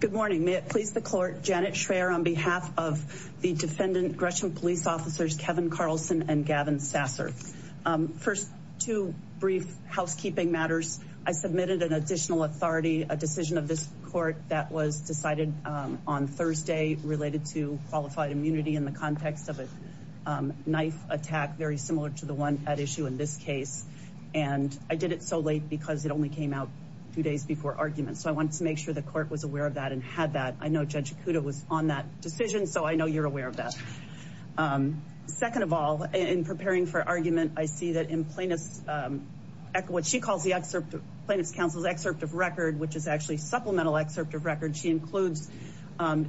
Good morning. May it please the court, Janet Schreyer on behalf of the defendant, Gresham Police Officers Kevin Carlson and Gavin Sasser. First, two brief housekeeping matters. I submitted an additional authority, a decision of this court that was decided on Thursday related to qualified immunity in the context of a knife attack very similar to the one at issue in this case. And I did it so late because it only came out two days before argument. So I wanted to make sure the court was aware of that and had that. I know Judge Acuda was on that decision, so I know you're aware of that. Second of all, in preparing for argument, I see that in plaintiff's, what she calls the plaintiff's counsel's excerpt of record, which is actually supplemental excerpt of record. She includes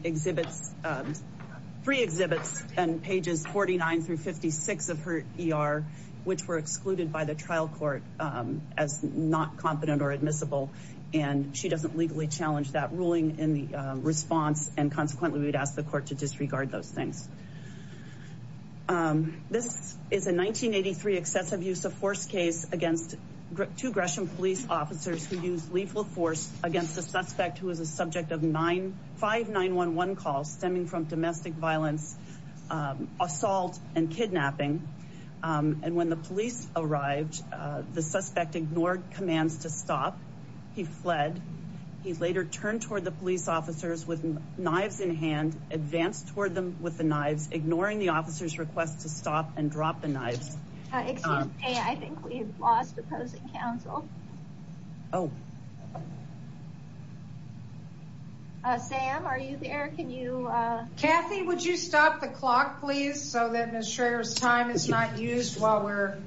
exhibits, three exhibits and pages 49 through 56 of her ER, which were excluded by the trial court as not competent or admissible. And she doesn't legally challenge that ruling in the response and consequently we would ask the court to disregard those things. This is a 1983 excessive use of force case against two Gresham Police Officers who used lethal force against a suspect who was a subject of nine 5911 calls stemming from domestic violence, assault and kidnapping. And when the police arrived, the suspect ignored commands to stop. He fled. He later turned toward the police officers with knives in hand, advanced toward them with the knives, ignoring the officer's request to stop and drop the knives. Excuse me, I think we've lost opposing counsel. Oh. Sam, are you there? Can you? Kathy, would you stop the clock, please, so that Ms. Schrader's time is not used while we're.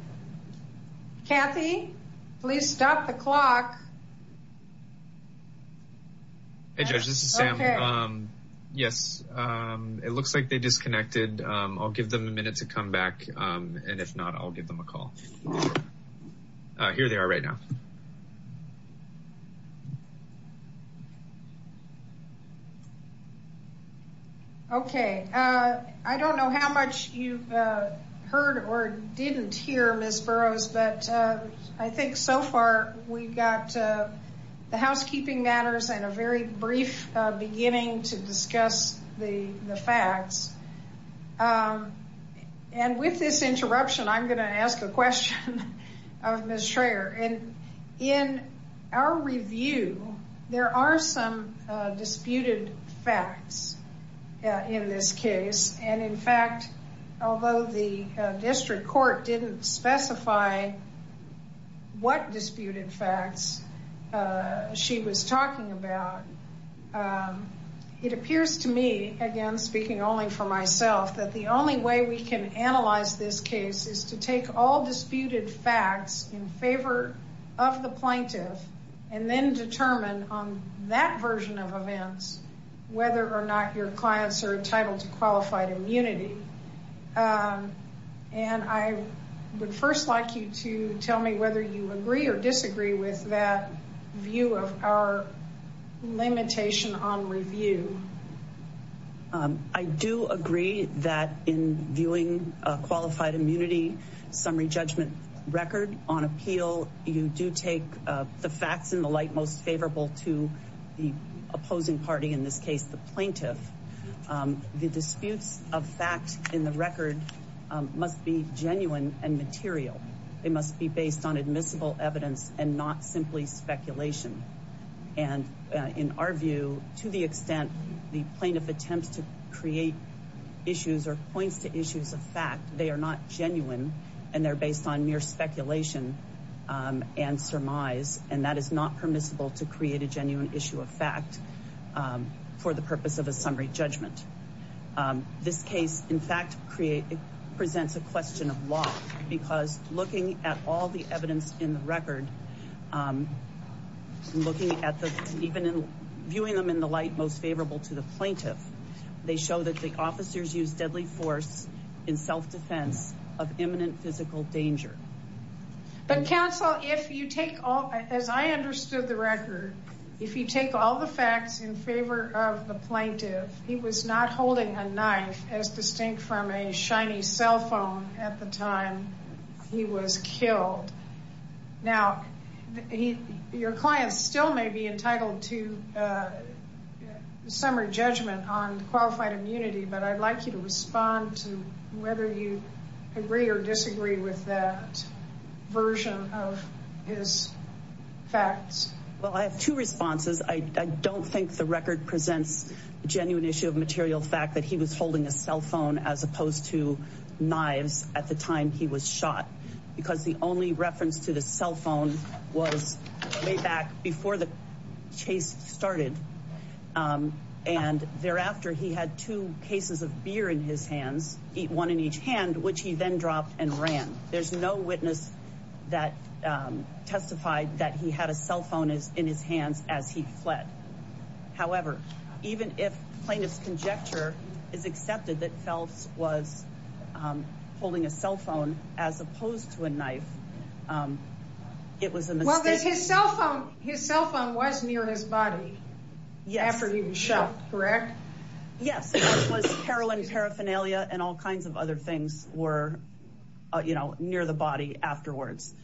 Kathy, please stop the clock. Hey, Judge, this is Sam. Yes, it looks like they disconnected. I'll give them a minute to come back and if not, I'll give them a call. Here they are right now. OK, I don't know how much you've heard or didn't hear, Ms. Burroughs, but I think so far we've got the housekeeping matters and a very brief beginning to discuss the facts. And with this interruption, I'm going to ask the question of Ms. Schrader. And in our review, there are some disputed facts in this case. And in fact, although the district court didn't specify what disputed facts she was talking about, it appears to me, again, speaking only for myself, that the only way we can analyze this case is to take all disputed facts in favor of the plaintiff and then determine on that version of events whether or not your clients are entitled to qualified immunity. And I would first like you to tell me whether you agree or disagree with that view of our limitation on review. I do agree that in viewing a qualified immunity summary judgment record on appeal, you do take the facts in the light most favorable to the opposing party, in this case, the plaintiff. The disputes of fact in the record must be genuine and material. They must be based on admissible evidence and not simply speculation. And in our view, to the extent the plaintiff attempts to create issues or points to issues of fact, they are not genuine and they're based on mere speculation and surmise. And that is not permissible to create a genuine issue of fact for the purpose of a summary judgment. This case, in fact, presents a question of law because looking at all the evidence in the record, looking at the, even viewing them in the light most favorable to the plaintiff, they show that the officers use deadly force in self-defense of imminent physical danger. But counsel, if you take all, as I understood the record, if you take all the facts in favor of the plaintiff, he was not holding a knife as distinct from a shiny cell phone at the time he was killed. Now, your clients still may be entitled to the summary judgment on qualified immunity, but I'd like you to respond to whether you agree or disagree with that version of his facts. Well, I have two responses. I don't think the record presents a genuine issue of material fact that he was holding a cell phone as opposed to knives at the time he was shot because the only reference to the cell phone was way back before the chase started. And thereafter, he had two cases of beer in his hands, one in each hand, which he then dropped and ran. There's no witness that testified that he had a cell phone in his hands as he fled. However, even if plaintiff's conjecture is accepted that Phelps was near his body after he was shot, correct? Yes, it was heroin paraphernalia and all kinds of other things were, you know, near the body afterwards.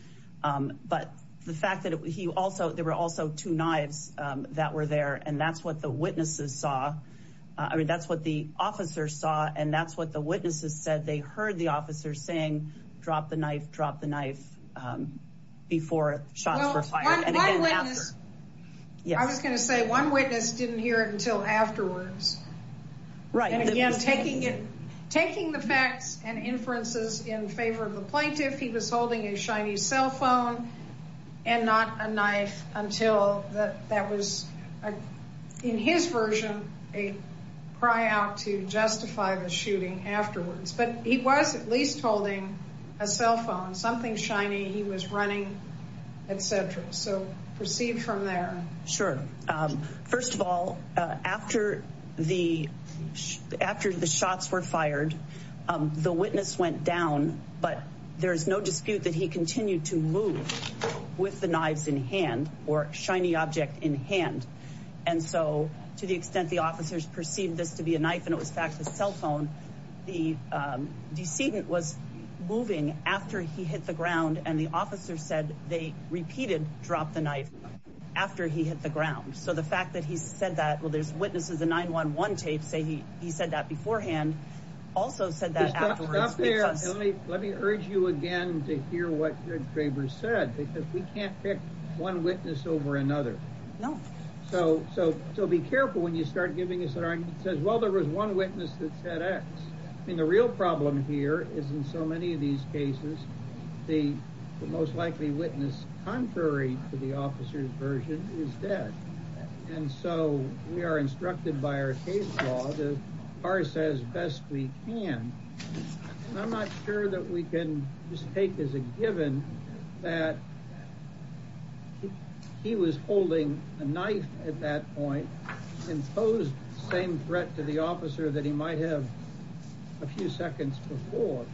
But the fact that he also, there were also two knives that were there and that's what the witnesses saw. I mean, that's what the officers saw and that's what the witnesses said. They heard the officer saying, drop the knife, drop the knife before shots were fired and again after. I was going to say one witness didn't hear it until afterwards. Right. And again, taking it, taking the facts and inferences in favor of the plaintiff, he was holding a shiny cell phone and not a knife until that was, in his version, a cry out to justify the shooting afterwards. But he was at least holding a cell phone, something shiny, he was running, etc. So, proceed from there. Sure. First of all, after the shots were fired, the witness went down, but there's no dispute that he continued to move with the knives in hand or shiny object in hand. And so, to the extent the officers perceived this to be a knife and it was in fact a cell phone, the decedent was moving after he hit the ground and the officer said they repeated drop the knife after he hit the ground. So, the fact that he said that, well, there's witnesses in 9-1-1 tape say he said that beforehand, also said that afterwards. Let me urge you again to hear what Greg Draper said because we can't pick one witness over another. So, be careful when you start giving us an argument that says, well, there was one witness that said X. I mean, the real problem here is in so many of these cases, the most likely witness contrary to the officer's version is dead. And so, we are instructed by our case law to parse as best we can. And I'm not sure that we can just take as a given that he was holding a knife at that point and posed the same threat to the officer that he might have a few seconds before.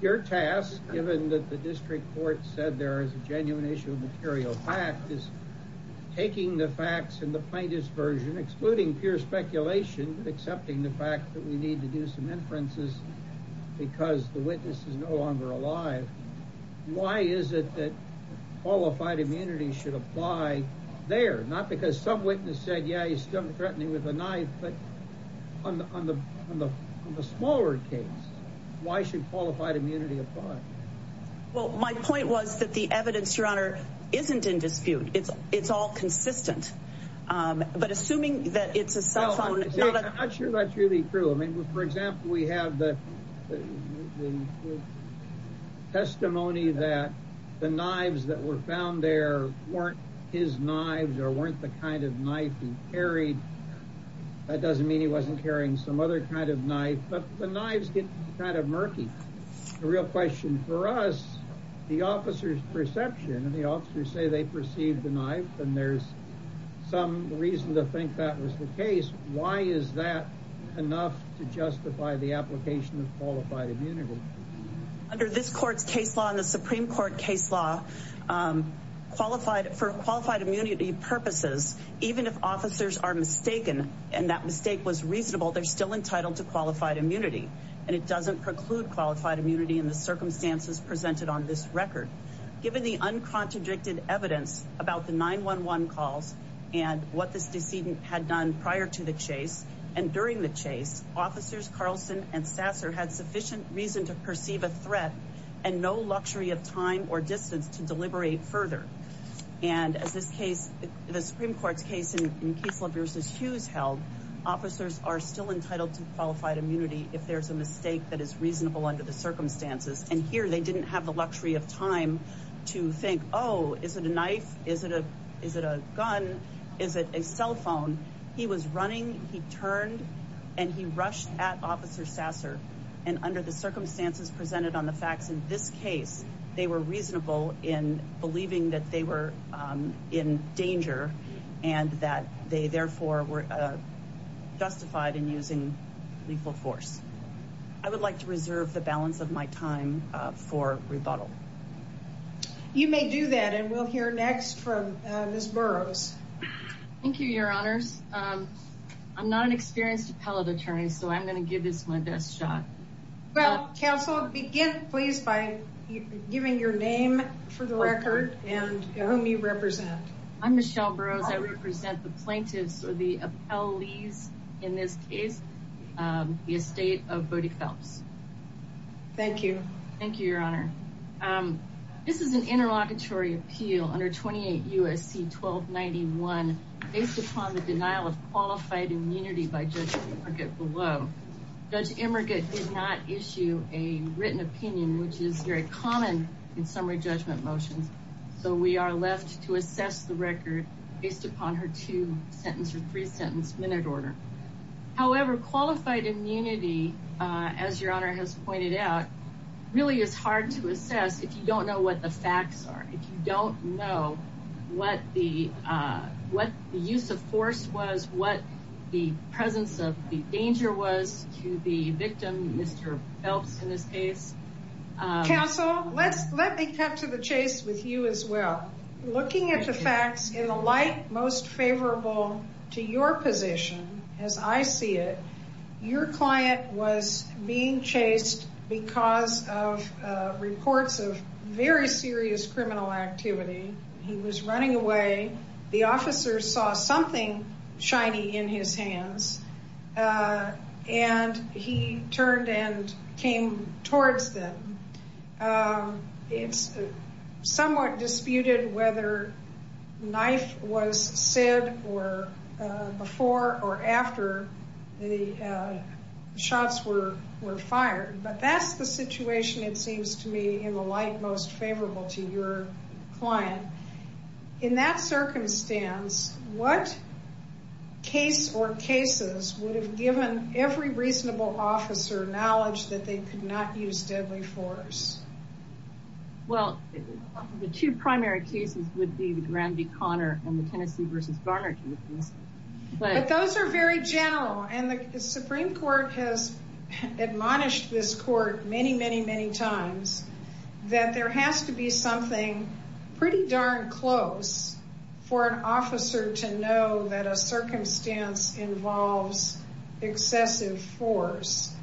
Your task, given that the district court said there is a genuine issue of material fact, is taking the facts in the plaintiff's version, excluding pure speculation, accepting the fact that we need to do some inferences because the witness is no longer alive. Why is it that qualified immunity should apply there? Not because some witness said, yeah, he's still threatening with a knife, but on the smaller case, why should qualified immunity apply? Well, my point was that the evidence, Your Honor, isn't in dispute. It's all consistent. But assuming that it's a cell phone... I'm not sure that's really true. I mean, for example, we have the testimony that the knives that were found there weren't his knives or weren't the kind of knife he carried. That doesn't mean he wasn't carrying some other kind of knife, but the knives get kind of murky. The real question for us, the officer's perception and the officers say they why is that enough to justify the application of qualified immunity? Under this court's case law and the Supreme Court case law, for qualified immunity purposes, even if officers are mistaken and that mistake was reasonable, they're still entitled to qualified immunity. And it doesn't preclude qualified immunity in the circumstances presented on this record. Given the uncontradicted evidence about the 911 calls and what this decedent had done prior to the chase and during the chase, officers Carlson and Sasser had sufficient reason to perceive a threat and no luxury of time or distance to deliberate further. And as this case, the Supreme Court's case in Kessler v. Hughes held, officers are still entitled to qualified immunity if there's a mistake that is reasonable under the circumstances. And here they didn't have luxury of time to think, oh, is it a knife? Is it a gun? Is it a cell phone? He was running, he turned and he rushed at officer Sasser. And under the circumstances presented on the facts in this case, they were reasonable in believing that they were in danger and that they therefore were You may do that and we'll hear next from Ms. Burroughs. Thank you, your honors. I'm not an experienced appellate attorney, so I'm going to give this my best shot. Well, counsel, begin please by giving your name for the record and whom you represent. I'm Michelle Burroughs. I represent the plaintiffs or the appellees in this case, the estate of Bodie Phelps. Thank you. Thank you, your honor. This is an interlocutory appeal under 28 U.S.C. 1291 based upon the denial of qualified immunity by Judge Emerget below. Judge Emerget did not issue a written opinion, which is very common in summary judgment motions. So we are left to assess the record based upon her two sentence or three sentence minute order. However, qualified immunity, as your honor has pointed out, really is hard to assess if you don't know what the facts are, if you don't know what the use of force was, what the presence of the danger was to the victim, Mr. Phelps in this case. Counsel, let me cut to the chase with you as well. Looking at the facts in the light most of reports of very serious criminal activity. He was running away. The officer saw something shiny in his hands and he turned and came towards them. It's somewhat disputed whether knife was said before or after the shots were fired. But that's the situation it seems to me in the light most favorable to your client. In that circumstance, what case or cases would have given every reasonable officer knowledge that they could not use deadly force? Well, the two primary cases would be the Granby-Connor and the Tennessee v. Barnard cases. But those are very general. And the Supreme Court has admonished this court many, many, many times that there has to be something pretty darn close for an officer to know that a circumstance involves excessive force.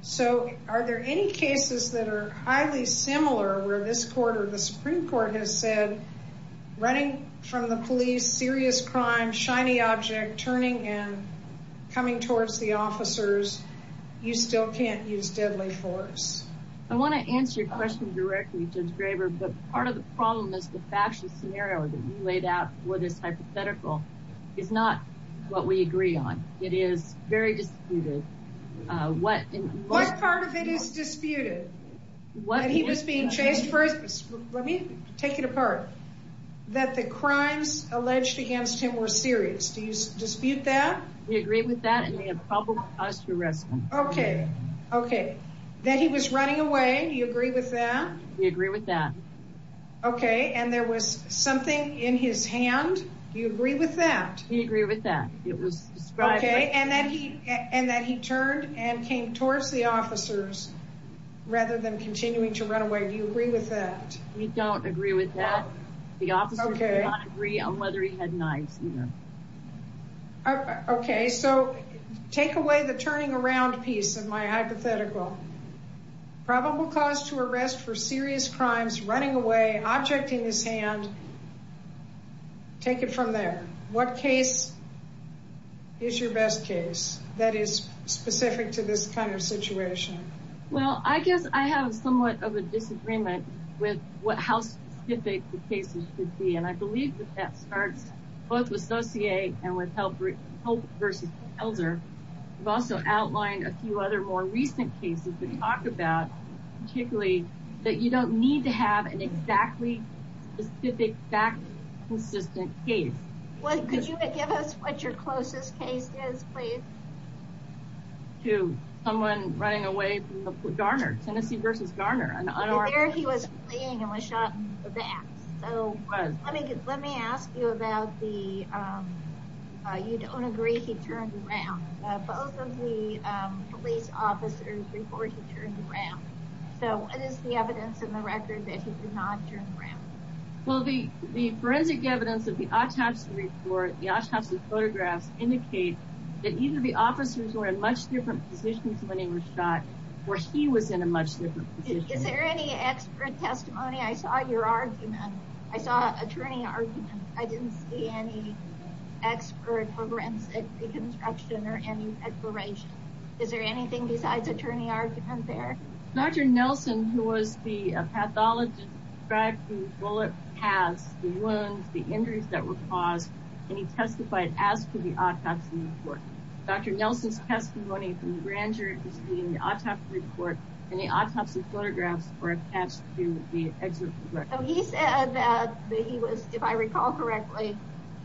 So are there any cases that are highly similar where this court or the Supreme Court has said running from the police, serious crime, shiny object, turning and coming towards the officers, you still can't use deadly force? I want to answer your question directly, Judge Graber, but part of the problem is the factual scenario that you laid out for this on. It is very disputed. What part of it is disputed? That he was being chased for his... Let me take it apart. That the crimes alleged against him were serious. Do you dispute that? We agree with that and we have probable cause to arrest him. Okay. Okay. That he was running away. Do you agree with that? We agree with that. Okay. And there was something in his hand. Do you agree with that? We agree with that. It was described... Okay. And that he turned and came towards the officers rather than continuing to run away. Do you agree with that? We don't agree with that. The officer did not agree on whether he had knives either. Okay. So take away the turning around piece of my hypothetical. Probable cause to arrest for serious crimes, running away, objecting his hand. Okay. Take it from there. What case is your best case that is specific to this kind of situation? Well, I guess I have somewhat of a disagreement with how specific the cases should be. And I believe that that starts both with Saussure and with Hope versus Helzer. I've also outlined a few other more recent cases to talk about, particularly that you don't need to have an exact consistent case. Well, could you give us what your closest case is, please? To someone running away from Garner, Tennessee versus Garner. There he was playing and was shot in the back. So let me ask you about the, you don't agree he turned around. Both of the police officers report he turned around. So what is the evidence in the record that he did not turn around? Well, the forensic evidence of the autopsy report, the autopsy photographs indicate that either the officers were in much different positions when he was shot or he was in a much different position. Is there any expert testimony? I saw your argument. I saw attorney argument. I didn't see any expert for forensic reconstruction or any exploration. Is there anything besides attorney argument there? Dr. Nelson, who was the pathologist, described the bullet paths, the wounds, the injuries that were caused, and he testified as to the autopsy report. Dr. Nelson's testimony from Granger is in the autopsy report and the autopsy photographs were attached to the excerpt of the record. So he said that he was, if I recall correctly,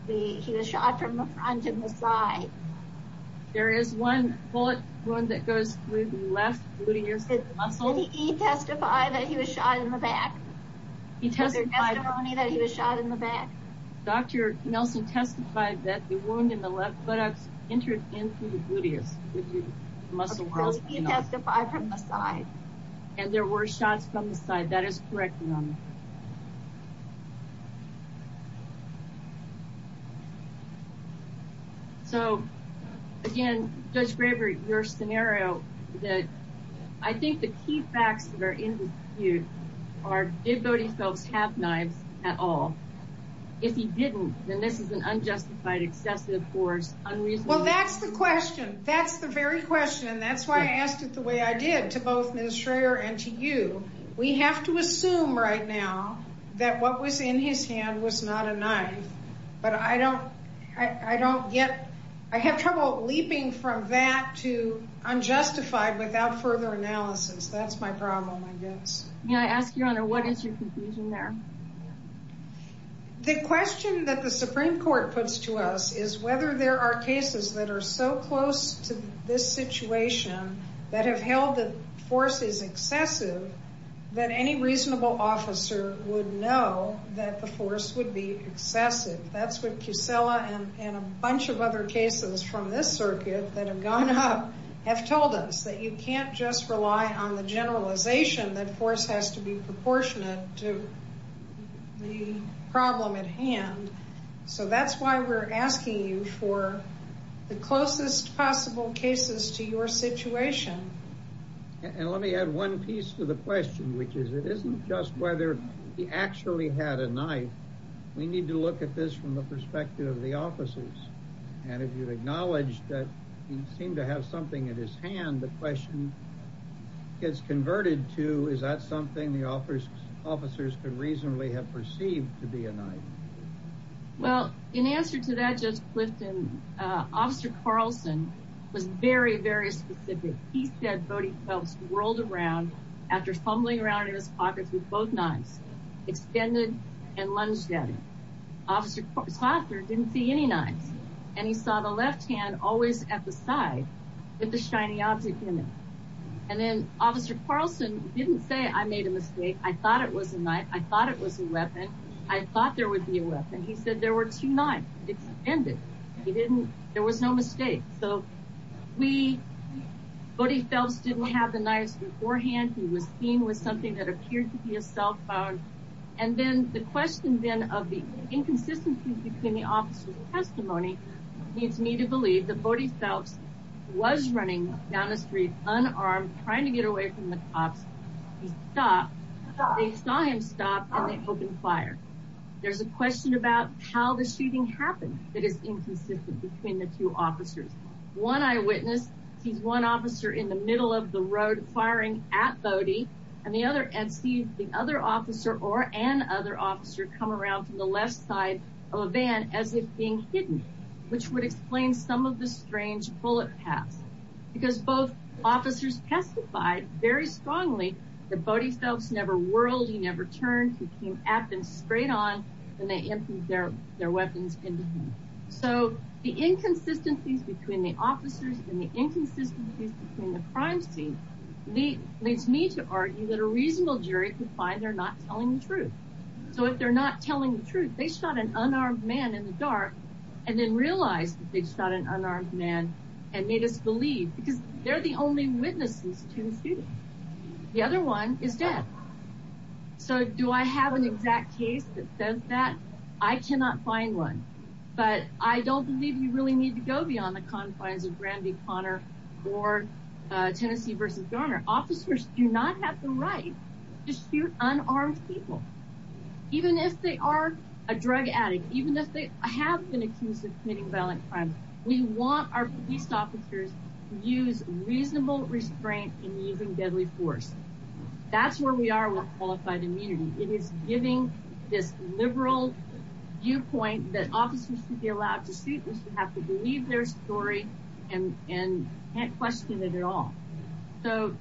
he was shot from the front and the side. There is one bullet wound that goes through the left gluteus muscle. Did he testify that he was shot in the back? He testified. Was there testimony that he was shot in the back? Dr. Nelson testified that the wound in the left buttocks entered into the gluteus. Did he testify from the side? And there were shots from the side. That is correct. So, again, Judge Graber, your scenario, I think the key facts that are in dispute are, did Bodie Phelps have knives at all? If he didn't, then this is an unjustified, excessive force, unreasonable. Well, that's the question. That's the very question. That's why I asked it the way I We have to assume right now that what was in his hand was not a knife. But I don't get, I have trouble leaping from that to unjustified without further analysis. That's my problem, I guess. May I ask, Your Honor, what is your conclusion there? The question that the Supreme Court puts to us is whether there are cases that are so close to this situation that have held that force is excessive that any reasonable officer would know that the force would be excessive. That's what Pucella and a bunch of other cases from this circuit that have gone up have told us, that you can't just rely on the generalization that force has to be proportionate to the problem at hand. So that's why we're asking you for the closest possible cases to your situation. And let me add one piece to the question, which is, it isn't just whether he actually had a knife. We need to look at this from the perspective of the officers. And if you acknowledge that he seemed to have something in his hand, the question gets converted to, is that something the officers could reasonably have perceived to be a knife? Well, in answer to that, Judge Clifton, Officer Carlson was very, very specific. He said Bodie Phelps rolled around after fumbling around in his pocket with both knives, extended and lunged at him. Officer Tosser didn't see any knives. And he saw the left hand always at the side with the shiny object in it. And then Officer Carlson didn't say, I made a mistake. I thought it was a knife. I thought it was a weapon. I thought there would be a weapon. He said there were two knives extended. He didn't, there was no mistake. So we, Bodie Phelps didn't have the knives beforehand. He was seen with something that appeared to be a cell phone. And then the question then of the inconsistencies between the officer's testimony leads me to believe that Bodie Phelps was running down the street, unarmed, trying to get away from the cops. He stopped, they saw him stop and they opened fire. There's a question about how the shooting happened that is inconsistent between the two officers. One eyewitness sees one officer in the middle of the road firing at Bodie and the other, and sees the other officer or an other officer come around from the left side of a van as if being hidden, which would explain some of the strange bullet paths. Because both officers testified very strongly that Bodie Phelps never whirled. He never turned. He came at them straight on and they emptied their weapons into him. So the inconsistencies between the officers and the inconsistencies between the crime scene leads me to argue that a reasonable jury could find they're not telling the truth. So if they're not telling the truth, they shot an unarmed man in the dark and then realized that they shot an unarmed man and made us believe because they're the only witnesses to the shooting. The other one is dead. So do I have an exact case that says that? I cannot find one, but I don't believe you really need to go beyond the confines of Granby, Connor or Tennessee versus Garner. Officers do not have the right to shoot unarmed people. Even if they are a drug addict, even if they have been accused of committing violent crimes, we want our police officers to use reasonable restraint in using deadly force. That's where we are with qualified immunity. It is giving this liberal viewpoint that officers should be allowed to shoot. They should have to believe their story and can't question it at all. So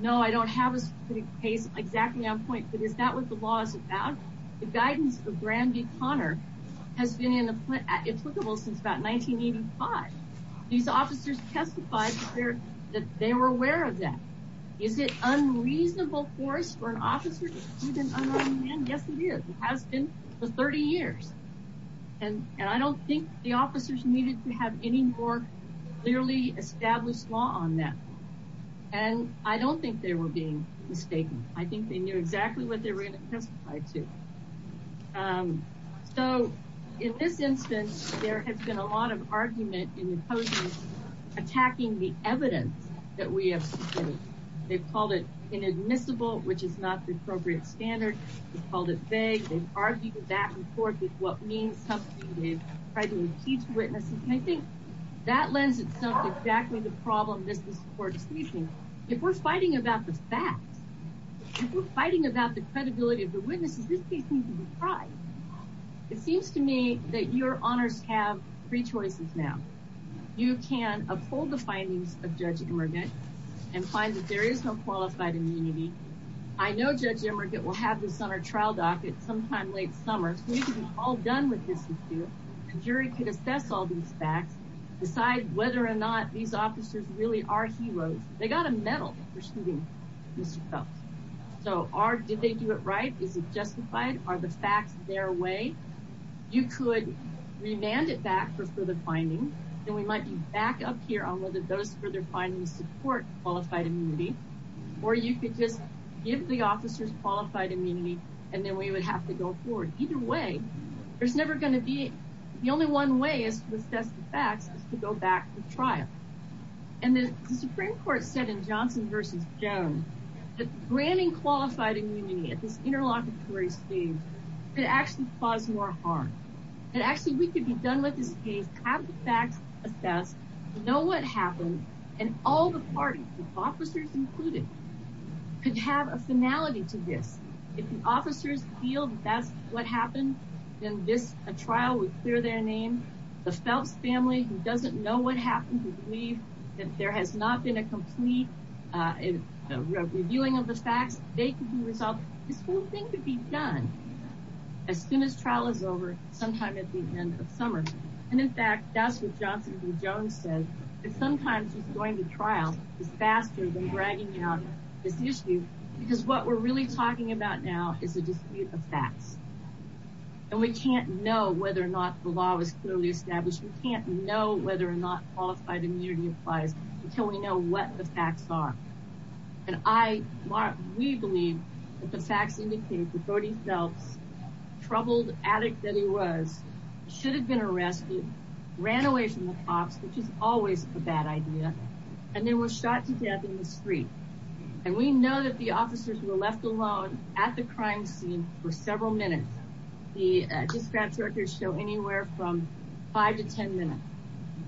no, I don't have a specific case exactly on point, but is that what the law is about? The guidance of Granby, Connor has been in the applicable since about 1985. These officers testified that they were aware of that. Is it unreasonable force for an officer to shoot an unarmed man? Yes, it is. It has been for 30 years. And I don't think the officers needed to have any more clearly established law on that. And I don't think they were being mistaken. I think they knew exactly what they were going to testify to. So in this instance, there has been a lot of argument in opposing attacking the evidence that we have submitted. They've called it inadmissible, which is not the appropriate standard. They've called it vague. They've argued back and forth with what means something. They've tried to impeach witnesses. And I think that lends itself exactly the problem this court is facing. If we're fighting about the facts, if we're fighting about the credibility of the witnesses, this case needs to be tried. It seems to me that your honors have three choices now. You can uphold the findings of Judge Emergant and find that there is no qualified immunity. I know Judge Emergant will have this on our trial docket sometime late summer. So we can be all done with this issue. The jury could assess all these facts, decide whether or not these officers really are heroes. They got a medal for shooting Mr. Phelps. So did they do it right? Is it justified? Are the facts their way? You could remand it back for further finding. We might be back up here on whether those further findings support qualified immunity. Or you could just give the officers qualified immunity, and then we would have to go forward. Either way, there's never going to be. The only one way is to assess the facts is to go back to trial. And the Supreme Court said in Johnson versus Jones, that granting qualified immunity at this interlocutory stage could actually cause more harm. And actually, we could be done with this case, have the facts assessed, know what happened. And all the parties, the officers included, could have a finality to this. If the officers feel that's what happened, then this trial would clear their name. The Phelps family, who doesn't know what happened, who believe that there has not been a complete reviewing of the facts, they could be resolved. This whole thing could be done as soon as trial is over. Sometime at the end of summer. And in fact, that's what Johnson v. Jones said, that sometimes just going to trial is faster than dragging out this issue. Because what we're really talking about now is a dispute of facts. And we can't know whether or not the law is clearly established. We can't know whether or not qualified immunity applies until we know what the facts are. And I, we believe that the facts indicate that Brody Phelps, troubled addict that he was, should have been arrested, ran away from the cops, which is always a bad idea. And then was shot to death in the street. And we know that the officers were left alone at the crime scene for several minutes. The dispatch records show anywhere from five to ten minutes.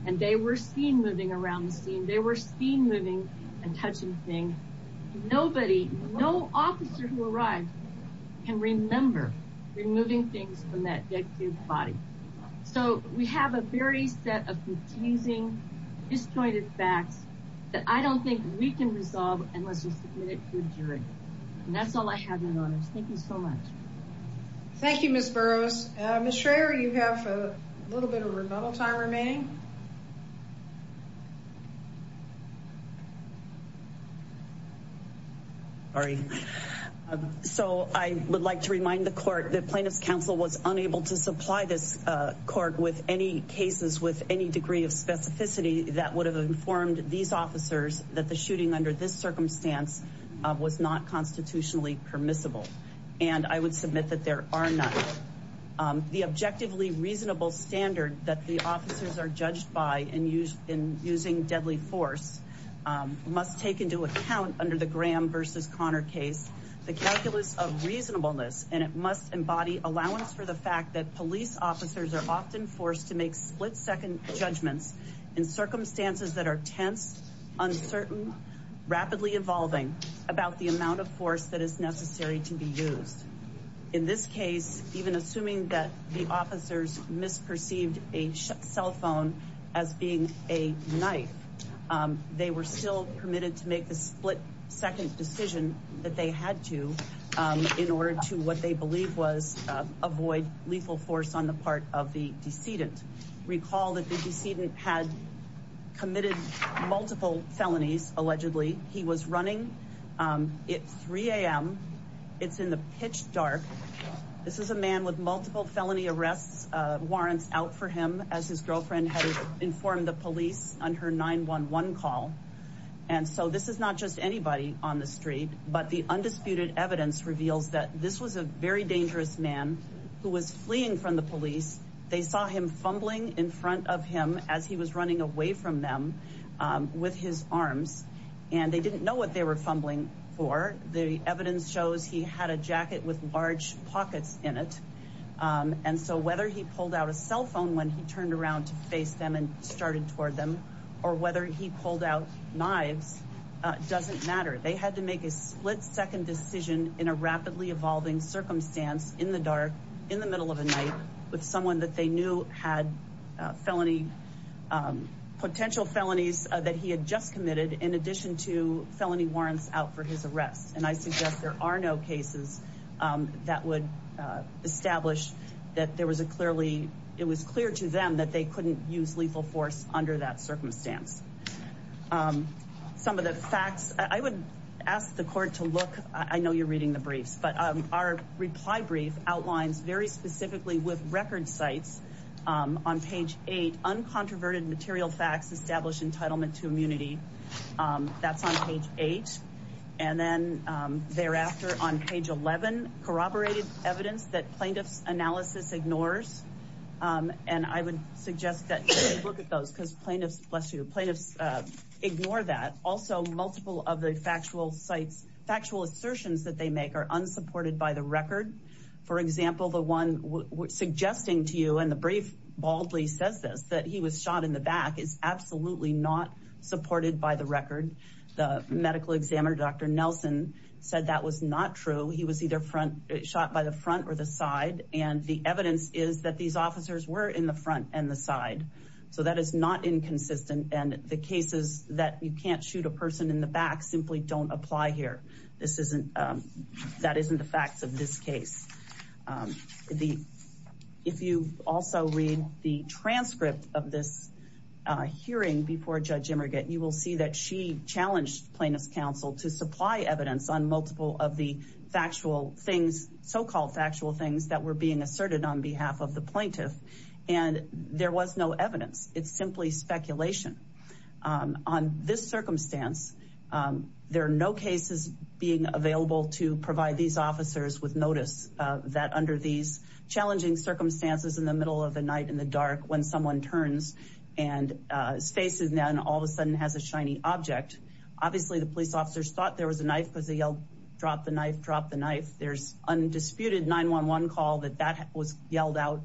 And they were seen moving around the scene. They were seen moving and touching things. Nobody, no officer who arrived can remember removing things from that dead kid's body. So we have a very set of confusing, disjointed facts that I don't think we can resolve unless we submit it to a jury. And that's all I have, Your Honors. Thank you so much. Thank you, Ms. Burroughs. Ms. Schraer, you have a little bit of rebuttal time remaining. Sorry. So I would like to remind the court that Plaintiff's Counsel was unable to supply this court with any cases with any degree of specificity that would have informed these officers that the shooting under this circumstance was not constitutionally permissible. And I would submit that there are none. The objectively reasonable standard that the officers are judged by and used in using deadly force must take into account under the Graham versus Connor case, the calculus of reasonableness. And it must embody allowance for the fact that police officers are often forced to make split-second judgments in circumstances that are tense, uncertain, rapidly evolving about the amount of force that is necessary to be used. In this case, even assuming that the officers misperceived a cell phone as being a knife, they were still permitted to make the split-second decision that they had to in order to what they believe was avoid lethal force on the part of the decedent. Recall that the decedent had committed multiple felonies, allegedly. He was running at 3 a.m. It's in the pitch dark. This is a man with multiple felony arrest warrants out for him as his girlfriend had informed the police on her 911 call. And so this is not just anybody on the street, but the undisputed evidence reveals that this was a very dangerous man who was fleeing from the police. They saw him fumbling in front of him as he was running away from them with his arms. And they didn't know what they were fumbling for. The evidence shows he had a jacket with large pockets in it. And so whether he pulled out a cell phone when he turned around to face them and started toward them or whether he pulled out knives doesn't matter. They had to make a split-second decision in a rapidly evolving circumstance in the dark, in the middle of the night with someone that they knew had felony, potential felonies that he had just committed in addition to felony warrants out for his arrest. And I suggest there are no cases that would establish that there was a clearly, it was clear to them that they couldn't use lethal force under that circumstance. Some of the facts, I would ask the court to look, I know you're reading the briefs, but our reply brief outlines very specifically with record sites on page eight, uncontroverted material facts established entitlement to immunity. That's on page eight. And then thereafter on page 11, corroborated evidence that plaintiff's analysis ignores. And I would suggest that you look at those because plaintiffs, bless you, plaintiffs ignore that. Also multiple of the factual sites, factual assertions that they make are unsupported by the record. For example, the one suggesting to you, and the brief baldly says this, that he was shot in the back is absolutely not supported by the record. The medical examiner, Dr. Nelson said that was not true. He was either shot by the front or the side. And the evidence is that these officers were in the front and the side. So that is not inconsistent. And the cases that you can't shoot a person in the back simply don't apply here. This isn't, that isn't the facts of this case. Um, the, if you also read the transcript of this, uh, hearing before Judge Emerget, you will see that she challenged plaintiff's counsel to supply evidence on multiple of the factual things, so-called factual things that were being asserted on behalf of the plaintiff. And there was no evidence. It's simply speculation. Um, on this circumstance, um, there are no cases being available to provide these officers with notice, uh, that under these challenging circumstances in the middle of the night in the dark, when someone turns and, uh, faces them, all of a sudden has a shiny object. Obviously the police officers thought there was a knife because they yelled, drop the knife, drop the knife. There's undisputed 911 call that that was yelled out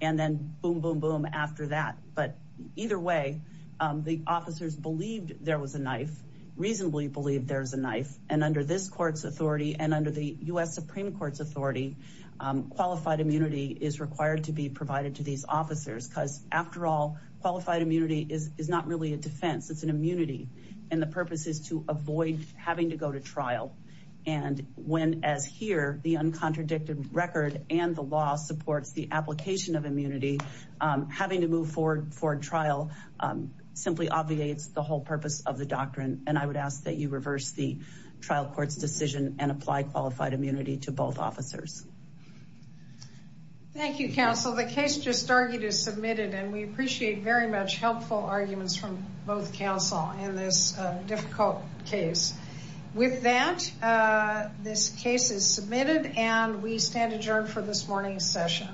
and then boom, boom, boom after that. But either way, um, the officers believed there was a knife, reasonably believed there was a knife. And under this court's authority and under the U.S. Supreme Court's authority, um, qualified immunity is required to be provided to these officers because after all qualified immunity is, is not really a defense. It's an immunity. And the purpose is to avoid having to go to trial. And when as here, the uncontradicted record and the law supports the application of immunity, um, having to move forward for trial, um, simply obviates the whole purpose of the doctrine. And I would ask that you reverse the trial court's decision and apply qualified immunity to both officers. Thank you, counsel. The case just argued is submitted, and we appreciate very much helpful arguments from both counsel in this difficult case. With that, uh, this case is submitted and we stand adjourned for this morning's session.